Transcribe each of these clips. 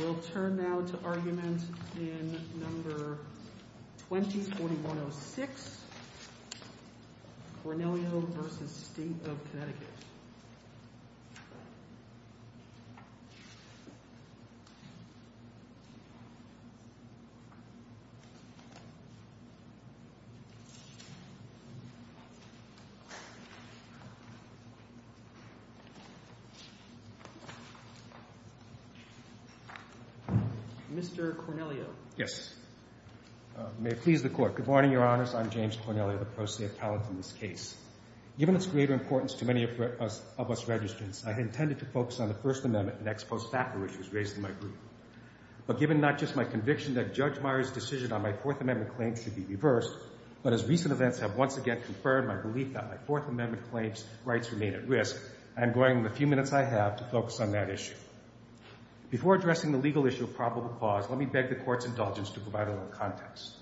We'll turn now to argument in No. 20-4106, Cornelio v. State of Connecticut. Mr. Cornelio. Yes. May it please the Court. Good morning, Your Honors. I'm James Cornelio, the pro se appellant in this case. Given its greater importance to many of us registrants, I intended to focus on the First Amendment and ex post facto issues raised in my group. But given not just my conviction that Judge Meyers' decision on my Fourth Amendment claims should be reversed, but as recent events have once again confirmed my belief that my Fourth Amendment claims' rights remain at risk, I'm going with the few minutes I have to focus on that issue. Before addressing the legal issue of probable cause, let me beg the Court's indulgence to provide a little context.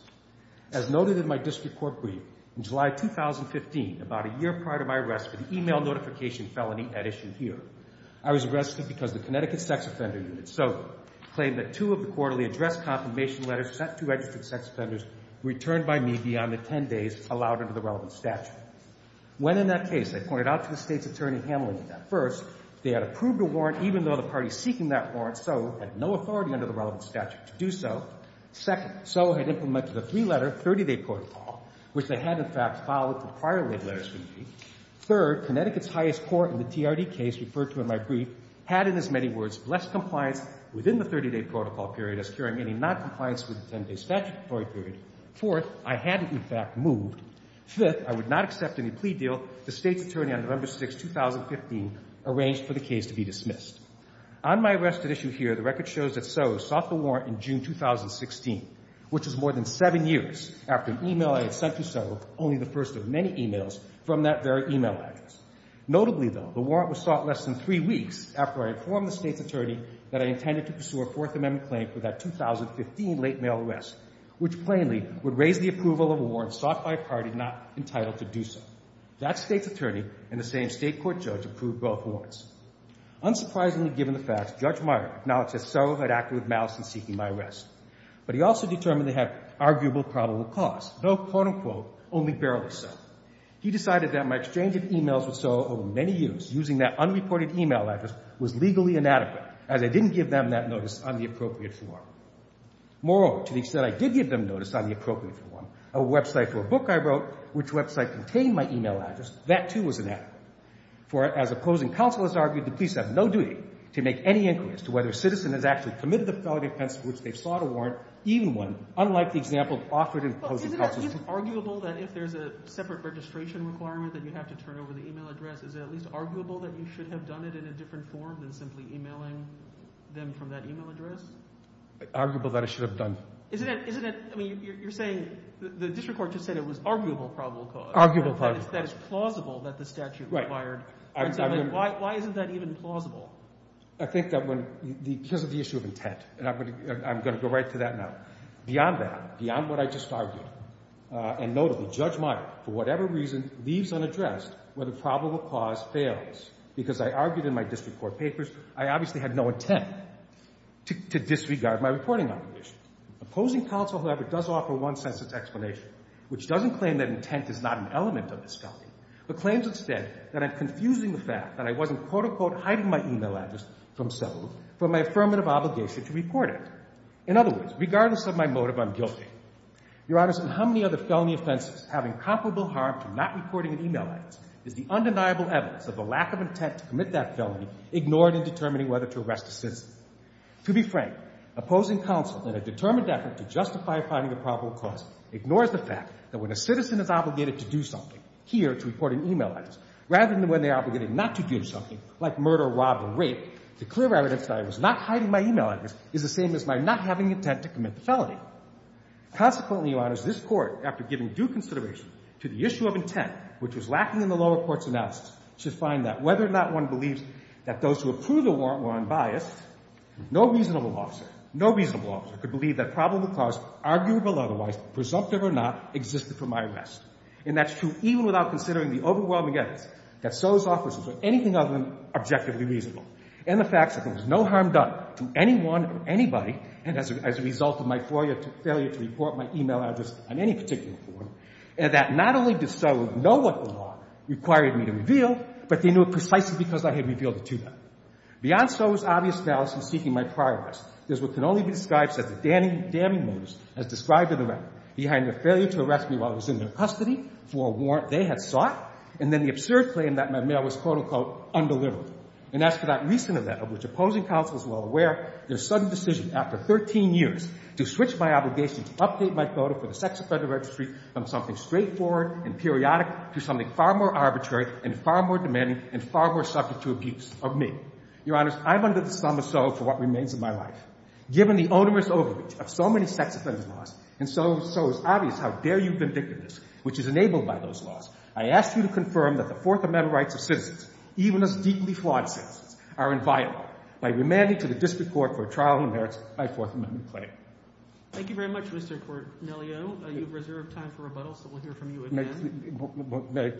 As noted in my district court brief, in July 2015, about a year prior to my arrest for the e-mail notification felony at issue here, I was arrested because the Connecticut Sex Offender Unit so claimed that two of the quarterly address confirmation letters sent to registered sex offenders returned by me beyond the 10 days allowed under the relevant statute. When in that case, I pointed out to the State's attorney handling that. First, they had approved a warrant even though the parties seeking that warrant so had no authority under the relevant statute to do so. Second, so had implemented a three-letter 30-day protocol, which they had, in fact, followed the prior laid letters for me. Third, Connecticut's highest court in the TRD case referred to in my brief had, in as many words, less compliance within the 30-day protocol period as carrying any noncompliance with the 10-day statutory period. Fourth, I hadn't, in fact, moved. Fifth, I would not accept any plea deal the State's attorney on November 6, 2015, arranged for the case to be dismissed. On my arrest at issue here, the record shows that Soe sought the warrant in June 2016, which is more than seven years after an e-mail I had sent to Soe, only the first of many e-mails from that very e-mail address. Notably, though, the warrant was sought less than three weeks after I informed the State's attorney that I intended to pursue a Fourth Amendment claim for that 2015 late mail arrest, which plainly would raise the approval of a warrant sought by a party not entitled to do so. That State's attorney and the same State court judge approved both warrants. Unsurprisingly, given the facts, Judge Meyer acknowledged that Soe had acted with malice in seeking my arrest, but he also determined they had arguable probable cause, though, quote, unquote, only barely so. He decided that my exchange of e-mails with Soe over many years using that unreported e-mail address was legally inadequate, as I didn't give them that notice on the appropriate form. Moreover, to the extent I did give them notice on the appropriate form, a website for a book I wrote, which website contained my e-mail address, that, too, was inadequate. For as opposing counsel has argued, the police have no duty to make any inquiries to whether a citizen has actually committed the felony offense for which they sought a warrant, even one unlike the example offered in opposing counsel's report. Is it arguable that if there's a separate registration requirement that you have to turn over the e-mail address, is it at least arguable that you should have done it in a different form than simply e-mailing them from that e-mail address? Arguable that I should have done. Isn't it? I mean, you're saying the district court just said it was arguable probable cause. Arguable probable cause. That is plausible that the statute required. Right. Why isn't that even plausible? I think that when the – because of the issue of intent, and I'm going to go right to that now. Beyond that, beyond what I just argued, and notably, Judge Meyer, for whatever reason, leaves unaddressed where the probable cause fails. Because I argued in my district court papers, I obviously had no intent to disregard my reporting obligation. Opposing counsel, however, does offer one census explanation, which doesn't claim that intent is not an element of this felony, but claims instead that I'm confusing the fact that I wasn't, quote, unquote, hiding my e-mail address from settlement for my affirmative obligation to report it. In other words, regardless of my motive, I'm guilty. Your Honors, in how many other felony offenses, having comparable harm to not reporting an e-mail address is the undeniable evidence of the lack of intent to commit that felony ignored in determining whether to arrest a citizen. To be frank, opposing counsel in a determined effort to justify finding a probable cause ignores the fact that when a citizen is obligated to do something, here, to report an e-mail address, rather than when they're obligated not to do something, like murder, rob, or rape, the clear evidence that I was not hiding my e-mail address is the same as my not having intent to commit the felony. Consequently, Your Honors, this Court, after giving due consideration to the issue of intent, which was lacking in the lower court's analysis, should find that whether or not one believes that those who approve the warrant were unbiased, no reasonable officer, no reasonable officer could believe that probable cause, arguable otherwise, presumptive or not, existed for my arrest. And that's true even without considering the overwhelming evidence that those officers or anything other than objectively reasonable. And the fact that there was no harm done to anyone or anybody, and as a result of my failure to report my e-mail address on any particular form, and that not only did so know what the law required me to reveal, but they knew it precisely because I had revealed it to them. Beyond Soe's obvious fallacy seeking my prior arrest, there's what can only be described as a damning motus as described in the record, behind their failure to arrest me while I was in their custody for a warrant they had sought, and then the absurd claim that my mail was, quote, unquote, undelivered. And as for that recent event of which opposing counsel is well aware, their sudden decision after 13 years to switch my obligation to update my photo for the Sex Offender Registry from something straightforward and periodic to something far more arbitrary and far more demanding and far more subject to abuse of me. Your Honors, I'm under the sum of so for what remains of my life. Given the onerous overreach of so many sex offenders' laws, and so it's obvious how dare you vindictiveness, which is enabled by those laws, I ask you to confirm that the Fourth Amendment rights of citizens, even as deeply flawed citizens, are inviolable by remanding to the district court for a trial that merits my Fourth Amendment claim. Thank you very much, Mr. Cornelio. You have reserved time for rebuttal, so we'll hear from you again.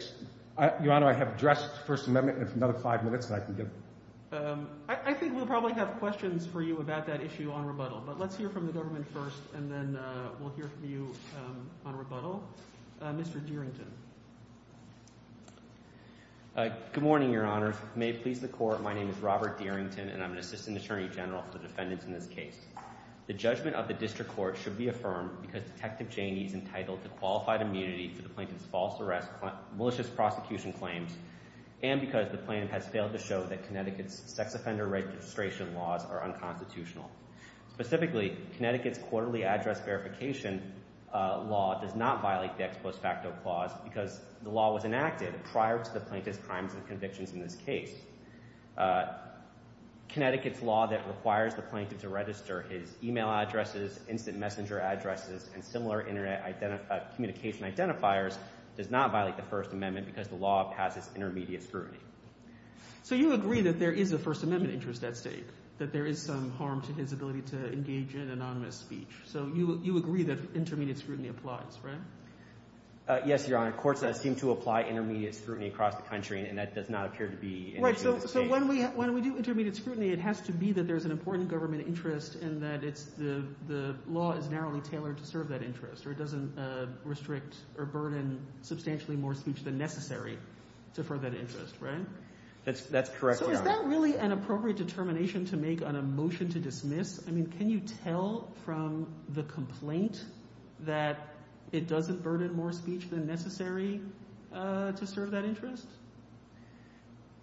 Your Honor, I have addressed the First Amendment. If another five minutes, I can give it. I think we'll probably have questions for you about that issue on rebuttal, but let's hear from the government first, and then we'll hear from you on rebuttal. Mr. Dearington. Good morning, Your Honors. May it please the Court, my name is Robert Dearington, and I'm an Assistant Attorney General for the defendants in this case. The judgment of the district court should be affirmed because Detective Janey is entitled to qualified immunity for the plaintiff's false arrest, malicious prosecution claims, and because the plaintiff has failed to show that Connecticut's sex offender registration laws are unconstitutional. Specifically, Connecticut's quarterly address verification law does not violate the ex post facto clause because the law was enacted prior to the plaintiff's crimes and convictions in this case. Connecticut's law that requires the plaintiff to register his e-mail addresses, instant messenger addresses, and similar internet communication identifiers does not violate the First Amendment because the law passes intermediate scrutiny. So you agree that there is a First Amendment interest at stake, that there is some harm to his ability to engage in anonymous speech. So you agree that intermediate scrutiny applies, right? Yes, Your Honor. Courts seem to apply intermediate scrutiny across the country, and that does not appear to be an issue at stake. So when we do intermediate scrutiny, it has to be that there's an important government interest and that the law is narrowly tailored to serve that interest, or it doesn't restrict or burden substantially more speech than necessary to further that interest, right? That's correct, Your Honor. So is that really an appropriate determination to make on a motion to dismiss? I mean, can you tell from the complaint that it doesn't burden more speech than necessary to serve that interest?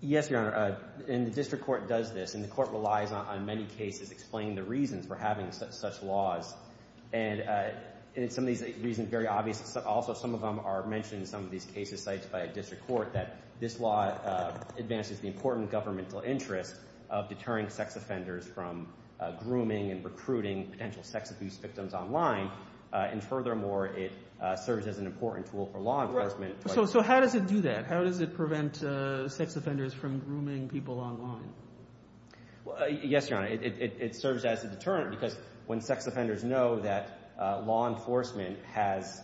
Yes, Your Honor, and the district court does this, and the court relies on many cases explaining the reasons for having such laws. And some of these reasons are very obvious. Also, some of them are mentioned in some of these cases cited by a district court that this law advances the important governmental interest of deterring sex offenders from grooming and recruiting potential sex abuse victims online, and furthermore, it serves as an important tool for law enforcement. So how does it do that? How does it prevent sex offenders from grooming people online? Yes, Your Honor. It serves as a deterrent because when sex offenders know that law enforcement has—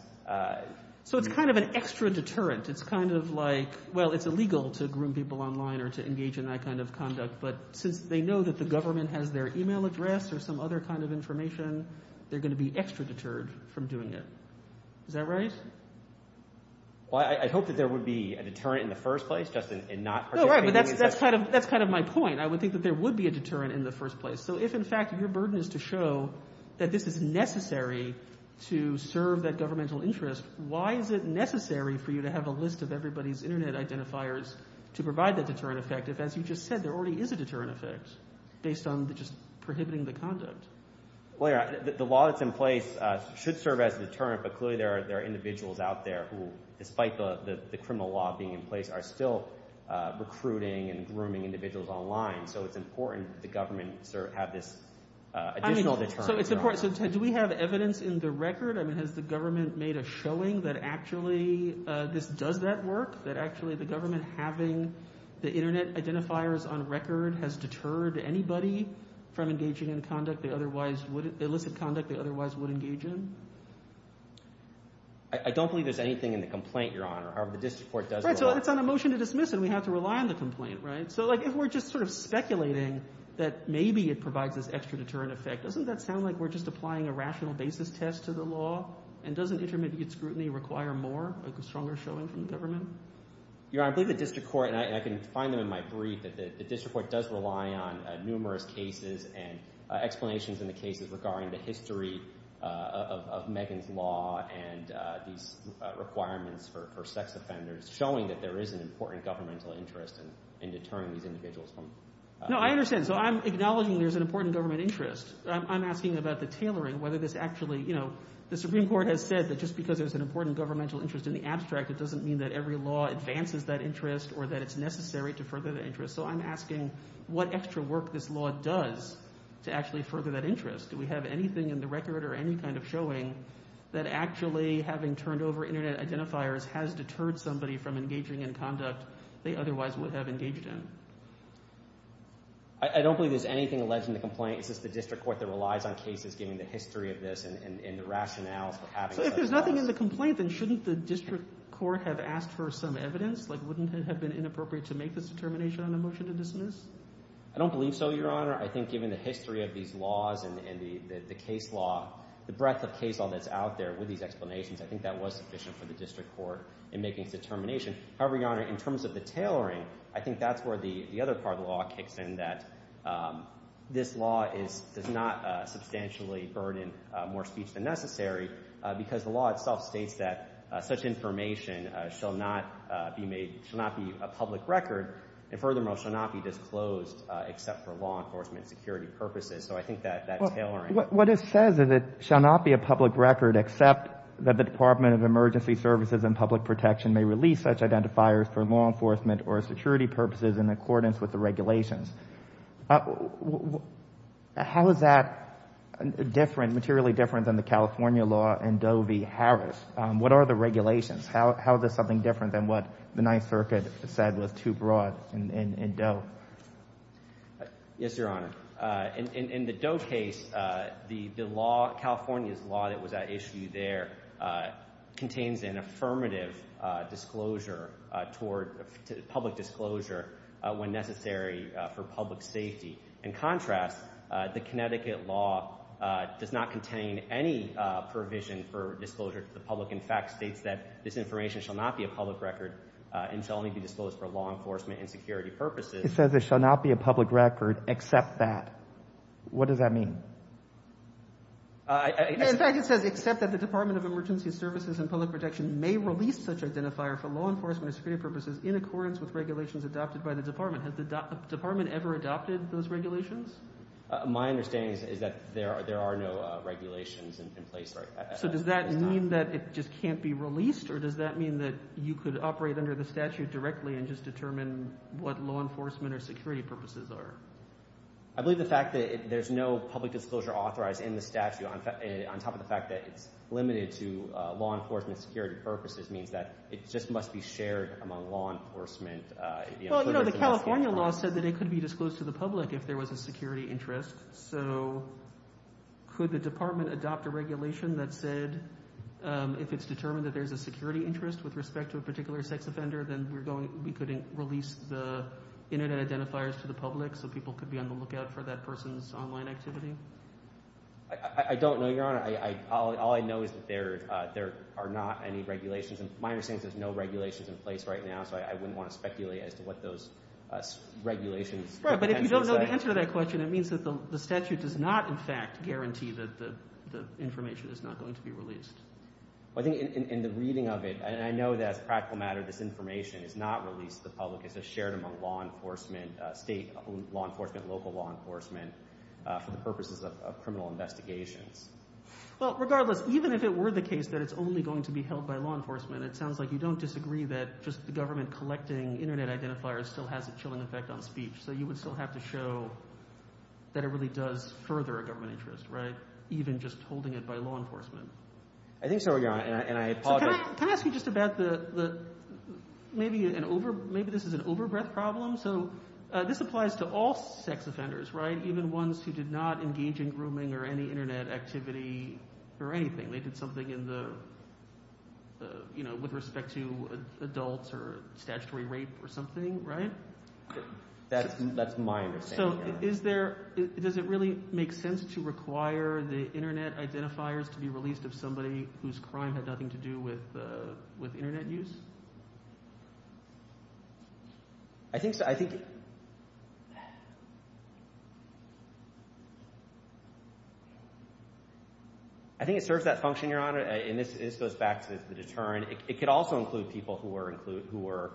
So it's kind of an extra deterrent. It's kind of like, well, it's illegal to groom people online or to engage in that kind of conduct, but since they know that the government has their email address or some other kind of information, they're going to be extra deterred from doing it. Is that right? Well, I hope that there would be a deterrent in the first place, Justin, and not— No, right, but that's kind of my point. I would think that there would be a deterrent in the first place. So if, in fact, your burden is to show that this is necessary to serve that governmental interest, why is it necessary for you to have a list of everybody's Internet identifiers to provide that deterrent effect if, as you just said, there already is a deterrent effect based on just prohibiting the conduct? Well, Your Honor, the law that's in place should serve as a deterrent, but clearly there are individuals out there who, despite the criminal law being in place, are still recruiting and grooming individuals online. So it's important that the government have this additional deterrent. So do we have evidence in the record? I mean, has the government made a showing that actually this does that work, that actually the government having the Internet identifiers on record has deterred anybody from engaging in conduct they otherwise would—illicit conduct they otherwise would engage in? I don't believe there's anything in the complaint, Your Honor. However, the district court does— Right, so it's on a motion to dismiss, and we have to rely on the complaint, right? So, like, if we're just sort of speculating that maybe it provides this extra deterrent effect, doesn't that sound like we're just applying a rational basis test to the law? And doesn't intermediate scrutiny require more, like a stronger showing from the government? Your Honor, I believe the district court—and I can find them in my brief— that the district court does rely on numerous cases and explanations in the cases regarding the history of Megan's Law and these requirements for sex offenders showing that there is an important governmental interest in deterring these individuals from— No, I understand. So I'm acknowledging there's an important government interest. I'm asking about the tailoring, whether this actually— The Supreme Court has said that just because there's an important governmental interest in the abstract, it doesn't mean that every law advances that interest or that it's necessary to further the interest. So I'm asking what extra work this law does to actually further that interest. Do we have anything in the record or any kind of showing that actually having turned over Internet identifiers has deterred somebody from engaging in conduct they otherwise would have engaged in? I don't believe there's anything alleged in the complaint. It's just the district court that relies on cases giving the history of this and the rationales for having— So if there's nothing in the complaint, then shouldn't the district court have asked for some evidence? Like wouldn't it have been inappropriate to make this determination on a motion to dismiss? I don't believe so, Your Honor. I think given the history of these laws and the case law, the breadth of case law that's out there with these explanations, I think that was sufficient for the district court in making its determination. However, Your Honor, in terms of the tailoring, I think that's where the other part of the law kicks in, that this law does not substantially burden more speech than necessary because the law itself states that such information shall not be a public record and furthermore shall not be disclosed except for law enforcement and security purposes. So I think that tailoring— What it says is it shall not be a public record except that the Department of Emergency Services and Public Protection may release such identifiers for law enforcement or security purposes in accordance with the regulations. How is that different, materially different, than the California law in Doe v. Harris? What are the regulations? How is this something different than what the Ninth Circuit said was too broad in Doe? Yes, Your Honor. In the Doe case, the law, California's law that was at issue there, contains an affirmative disclosure toward public disclosure when necessary for public safety. In contrast, the Connecticut law does not contain any provision for disclosure to the public. In fact, it states that this information shall not be a public record and shall only be disclosed for law enforcement and security purposes. It says it shall not be a public record except that. What does that mean? In fact, it says except that the Department of Emergency Services and Public Protection may release such identifier for law enforcement or security purposes in accordance with regulations adopted by the Department. Has the Department ever adopted those regulations? My understanding is that there are no regulations in place at this time. So does that mean that it just can't be released, or does that mean that you could operate under the statute directly and just determine what law enforcement or security purposes are? I believe the fact that there's no public disclosure authorized in the statute, on top of the fact that it's limited to law enforcement and security purposes, means that it just must be shared among law enforcement. Well, you know, the California law said that it could be disclosed to the public if there was a security interest. So could the Department adopt a regulation that said if it's determined that there's a security interest with respect to a particular sex offender, then we could release the Internet identifiers to the public so people could be on the lookout for that person's online activity? I don't know, Your Honor. All I know is that there are not any regulations. My understanding is there's no regulations in place right now, so I wouldn't want to speculate as to what those regulations are. Right, but if you don't know the answer to that question, it means that the statute does not, in fact, guarantee that the information is not going to be released. I think in the reading of it, and I know that as a practical matter, this information is not released to the public. It's shared among law enforcement, state law enforcement, local law enforcement, for the purposes of criminal investigations. Well, regardless, even if it were the case that it's only going to be held by law enforcement, it sounds like you don't disagree that just the government collecting Internet identifiers still has a chilling effect on speech. So you would still have to show that it really does further a government interest, right, even just holding it by law enforcement. I think so, Your Honor, and I apologize. Can I ask you just about maybe this is an overbreath problem? So this applies to all sex offenders, right, even ones who did not engage in grooming or any Internet activity or anything. They did something with respect to adults or statutory rape or something, right? That's my understanding, Your Honor. So does it really make sense to require the Internet identifiers to be released of somebody whose crime had nothing to do with Internet use? I think it serves that function, Your Honor, and this goes back to the deterrent. It could also include people who were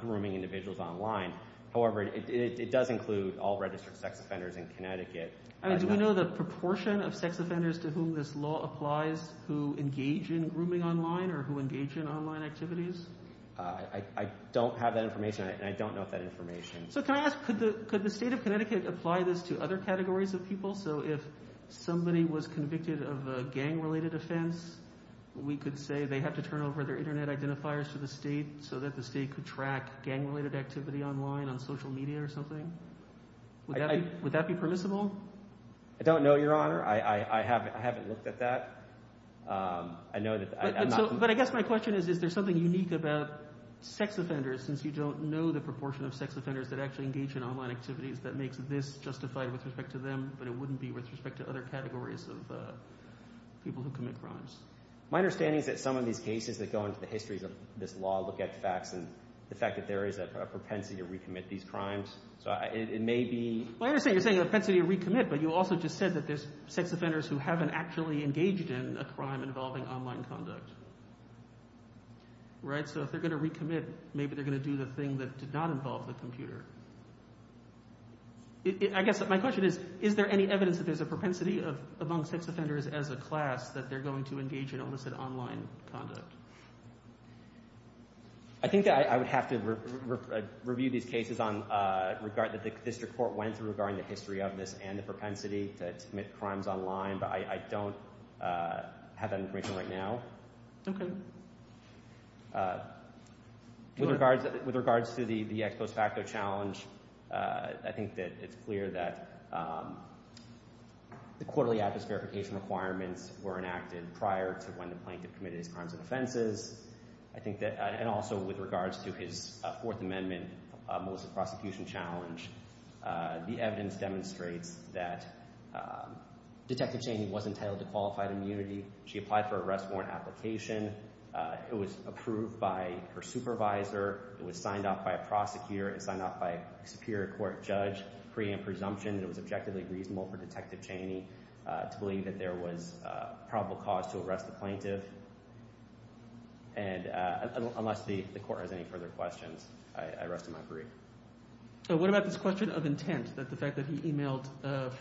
grooming individuals online. However, it does include all registered sex offenders in Connecticut. Do we know the proportion of sex offenders to whom this law applies who engage in grooming online or who engage in online activities? I don't have that information, and I don't know that information. So can I ask, could the state of Connecticut apply this to other categories of people? So if somebody was convicted of a gang-related offense, we could say they have to turn over their Internet identifiers to the state so that the state could track gang-related activity online on social media or something? Would that be permissible? I don't know, Your Honor. I haven't looked at that. But I guess my question is, is there something unique about sex offenders since you don't know the proportion of sex offenders that actually engage in online activities that makes this justified with respect to them, but it wouldn't be with respect to other categories of people who commit crimes? My understanding is that some of these cases that go into the histories of this law look at the facts and the fact that there is a propensity to recommit these crimes. So it may be— I understand you're saying a propensity to recommit, but you also just said that there's sex offenders who haven't actually engaged in a crime involving online conduct. So if they're going to recommit, maybe they're going to do the thing that did not involve the computer. I guess my question is, is there any evidence that there's a propensity among sex offenders as a class that they're going to engage in almost an online conduct? I think that I would have to review these cases that the district court went through regarding the history of this and the propensity to commit crimes online, but I don't have that information right now. Okay. With regards to the ex post facto challenge, I think that it's clear that the quarterly adverse verification requirements were enacted prior to when the plaintiff committed his crimes and offenses. I think that—and also with regards to his Fourth Amendment most prosecution challenge, the evidence demonstrates that Detective Chaney was entitled to qualified immunity. She applied for an arrest warrant application. It was approved by her supervisor. It was signed off by a prosecutor. It was signed off by a superior court judge pre and presumption that it was objectively reasonable for Detective Chaney to believe that there was probable cause to arrest the plaintiff. Unless the court has any further questions, I rest in my grief. What about this question of intent, that the fact that he emailed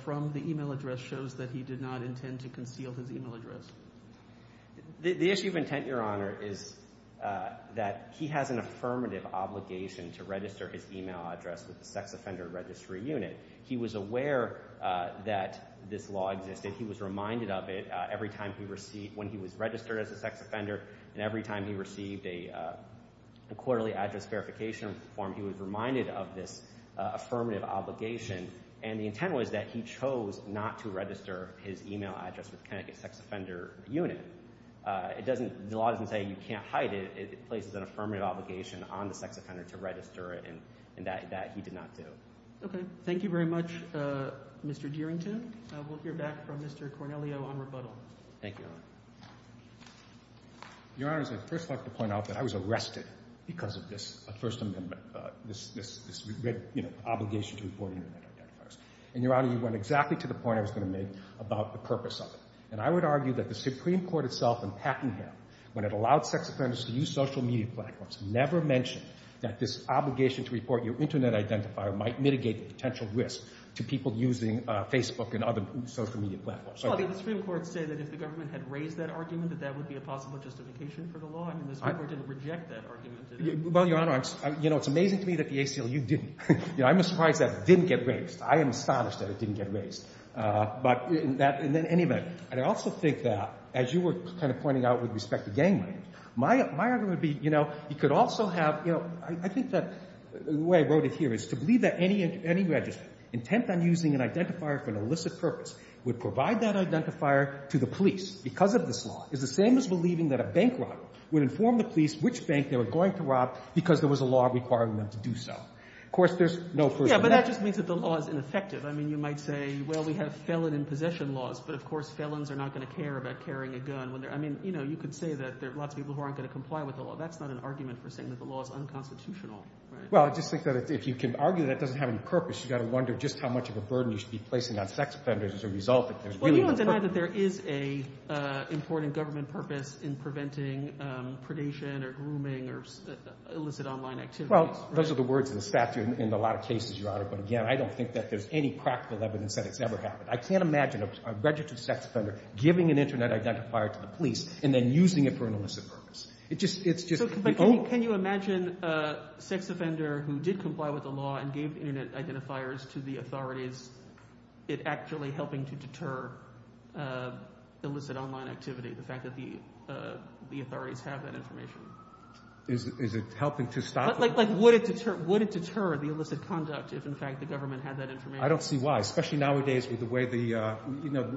from the email address shows that he did not intend to conceal his email address? The issue of intent, Your Honor, is that he has an affirmative obligation to register his email address with the Sex Offender Registry Unit. He was aware that this law existed. He was reminded of it every time he received—when he was registered as a sex offender and every time he received a quarterly address verification form. He was reminded of this affirmative obligation, and the intent was that he chose not to register his email address with Connecticut Sex Offender Unit. The law doesn't say you can't hide it. It places an affirmative obligation on the sex offender to register it, and that he did not do. Okay. Thank you very much, Mr. Dearington. We'll hear back from Mr. Cornelio on rebuttal. Thank you, Your Honor. Your Honor, I'd first like to point out that I was arrested because of this First Amendment, this obligation to report internet identifiers. And, Your Honor, you went exactly to the point I was going to make about the purpose of it. And I would argue that the Supreme Court itself in Packingham, when it allowed sex offenders to use social media platforms, never mentioned that this obligation to report your internet identifier might mitigate the potential risk to people using Facebook and other social media platforms. Well, the Supreme Court said that if the government had raised that argument, that that would be a possible justification for the law, and the Supreme Court didn't reject that argument, did it? Well, Your Honor, you know, it's amazing to me that the ACLU didn't. You know, I'm surprised that didn't get raised. I am astonished that it didn't get raised. But in any event, I also think that, as you were kind of pointing out with respect to gang rape, my argument would be, you know, you could also have, you know, I think that the way I wrote it here is to believe that any register intent on using an identifier for an illicit purpose would provide that identifier to the police because of this law is the same as believing that a bank robber would inform the police which bank they were going to rob because there was a law requiring them to do so. Of course, there's no First Amendment. Yeah, but that just means that the law is ineffective. I mean, you might say, well, we have felon in possession laws, but of course felons are not going to care about carrying a gun when they're – I mean, you know, you could say that there are lots of people who aren't going to comply with the law. That's not an argument for saying that the law is unconstitutional. Well, I just think that if you can argue that it doesn't have any purpose, you've got to wonder just how much of a burden you should be placing on sex offenders as a result that there's really no purpose. Well, you don't deny that there is an important government purpose in preventing predation or grooming or illicit online activities. Well, those are the words of the statute in a lot of cases, Your Honor. But again, I don't think that there's any practical evidence that it's ever happened. I can't imagine a registered sex offender giving an Internet identifier to the police and then using it for an illicit purpose. It's just – But can you imagine a sex offender who did comply with the law and gave Internet identifiers to the authorities, it actually helping to deter illicit online activity, the fact that the authorities have that information? Is it helping to stop it? Like would it deter the illicit conduct if, in fact, the government had that information? I don't see why, especially nowadays with the way the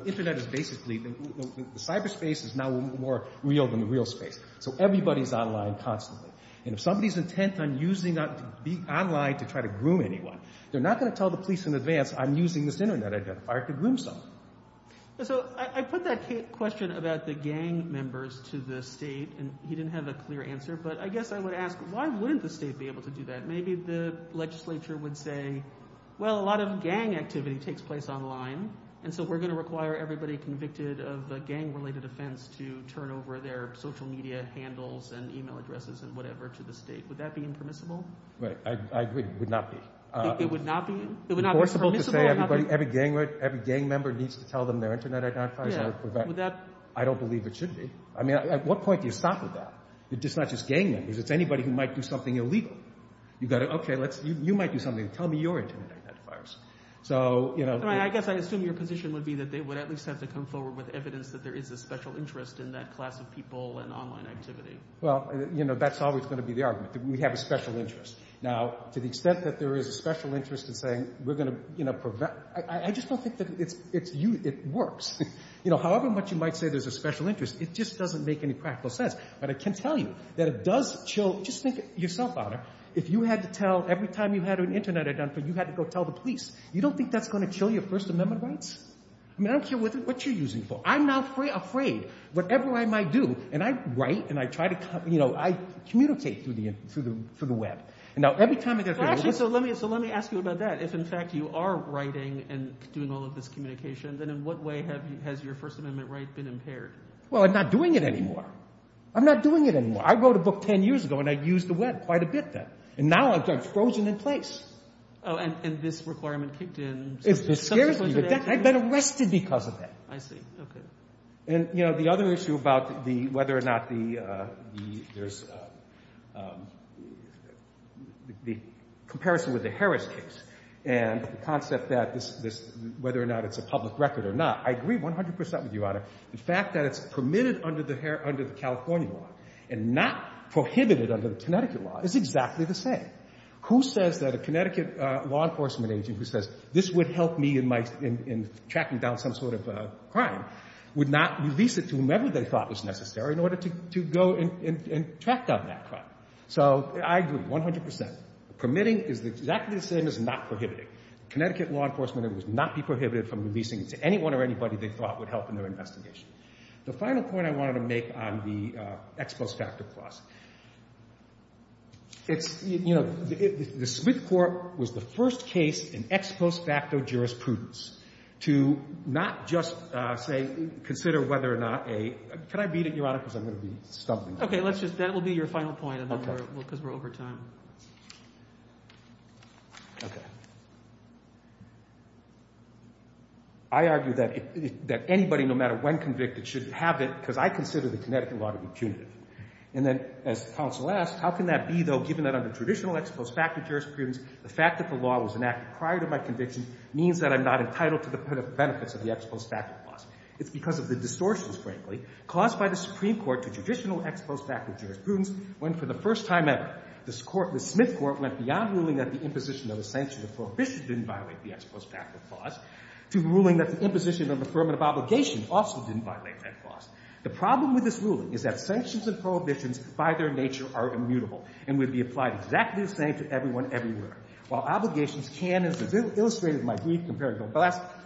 Internet is basically – the cyberspace is now more real than the real space. So everybody is online constantly. And if somebody is intent on using online to try to groom anyone, they're not going to tell the police in advance, I'm using this Internet identifier to groom someone. So I put that question about the gang members to the state, and he didn't have a clear answer, but I guess I would ask, why wouldn't the state be able to do that? Maybe the legislature would say, well, a lot of gang activity takes place online, and so we're going to require everybody convicted of a gang-related offense to turn over their social media handles and e-mail addresses and whatever to the state. Would that be impermissible? I agree, it would not be. It would not be? It would not be permissible? Every gang member needs to tell them their Internet identifiers. I don't believe it should be. I mean, at what point do you stop at that? It's not just gang members. It's anybody who might do something illegal. You've got to, okay, you might do something. Tell me your Internet identifiers. I guess I assume your position would be that they would at least have to come forward with evidence that there is a special interest in that class of people and online activity. Well, that's always going to be the argument, that we have a special interest. Now, to the extent that there is a special interest in saying we're going to prevent, I just don't think that it works. However much you might say there's a special interest, it just doesn't make any practical sense. But I can tell you that it does chill. Just think yourself, Honor. If you had to tell every time you had an Internet identifier, you had to go tell the police, you don't think that's going to chill your First Amendment rights? I mean, I don't care what you're using it for. I'm not afraid. Whatever I might do, and I write and I try to, you know, I communicate through the Web. Now, every time I get a— Actually, so let me ask you about that. If, in fact, you are writing and doing all of this communication, then in what way has your First Amendment right been impaired? Well, I'm not doing it anymore. I'm not doing it anymore. I wrote a book 10 years ago, and I used the Web quite a bit then. And now I'm frozen in place. Oh, and this requirement kicked in. It scares me. I've been arrested because of that. I see. Okay. And, you know, the other issue about whether or not there's the comparison with the Harris case and the concept that whether or not it's a public record or not, I agree 100 percent with you, Honor. The fact that it's permitted under the California law and not prohibited under the Connecticut law is exactly the same. Who says that a Connecticut law enforcement agent who says, this would help me in tracking down some sort of crime, would not release it to whomever they thought was necessary in order to go and track down that crime? So I agree 100 percent. Permitting is exactly the same as not prohibiting. Connecticut law enforcement would not be prohibited from releasing it to anyone or anybody they thought would help in their investigation. The final point I wanted to make on the ex post facto clause, it's, you know, the Smith court was the first case in ex post facto jurisprudence to not just say, consider whether or not a, can I beat it, Your Honor, because I'm going to be stumbling. Okay, let's just, that will be your final point, because we're over time. Okay. I argue that anybody, no matter when convicted, should have it, because I consider the Connecticut law to be punitive. And then as counsel asked, how can that be, though, given that under traditional ex post facto jurisprudence, the fact that the law was enacted prior to my conviction means that I'm not entitled to the benefits of the ex post facto clause. It's because of the distortions, frankly, caused by the Supreme Court to judicial ex post facto jurisprudence when for the first time ever, the Smith court went beyond ruling that the imposition of a sanction of prohibition didn't violate the ex post facto clause to ruling that the imposition of affirmative obligation also didn't violate that clause. The problem with this ruling is that sanctions and prohibitions, by their nature, are immutable and would be applied exactly the same to everyone everywhere. While obligations can, as illustrated in my brief, compared to the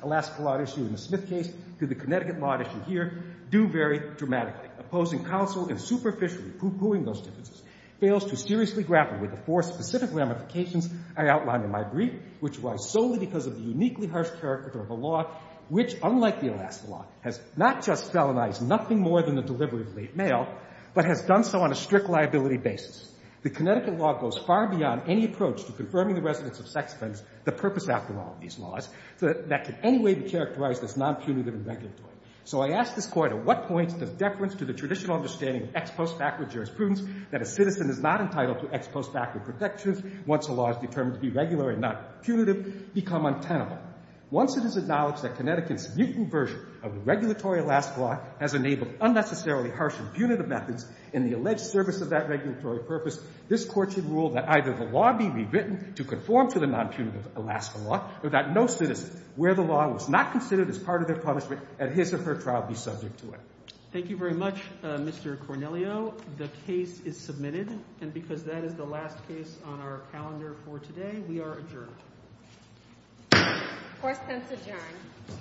Alaska law issue in the Smith case to the Connecticut law issue here, do vary dramatically. Opposing counsel and superficially pooh-poohing those differences fails to seriously grapple with the four specific ramifications I outlined in my brief, which was solely because of the uniquely harsh character of the law, which, unlike the Alaska law, has not just felonized nothing more than the delivery of late mail, but has done so on a strict liability basis. The Connecticut law goes far beyond any approach to confirming the residence of sex offenders, the purpose after all of these laws, that can anyway be characterized as non-punitive and regulatory. So I ask this Court, at what point does deference to the traditional understanding of ex post facto jurisprudence, that a citizen is not entitled to ex post facto protections, once a law is determined to be regular and not punitive, become untenable? Once it is acknowledged that Connecticut's mutant version of the regulatory Alaska law has enabled unnecessarily harsh and punitive methods in the alleged service of that regulatory purpose, this Court should rule that either the law be rewritten to conform to the non-punitive Alaska law, or that no citizen, where the law was not considered as part of their punishment, at his or her trial be subject to it. Thank you very much, Mr. Cornelio. The case is submitted, and because that is the last case on our calendar for today, we are adjourned. Court is adjourned. Thank you. Thank you.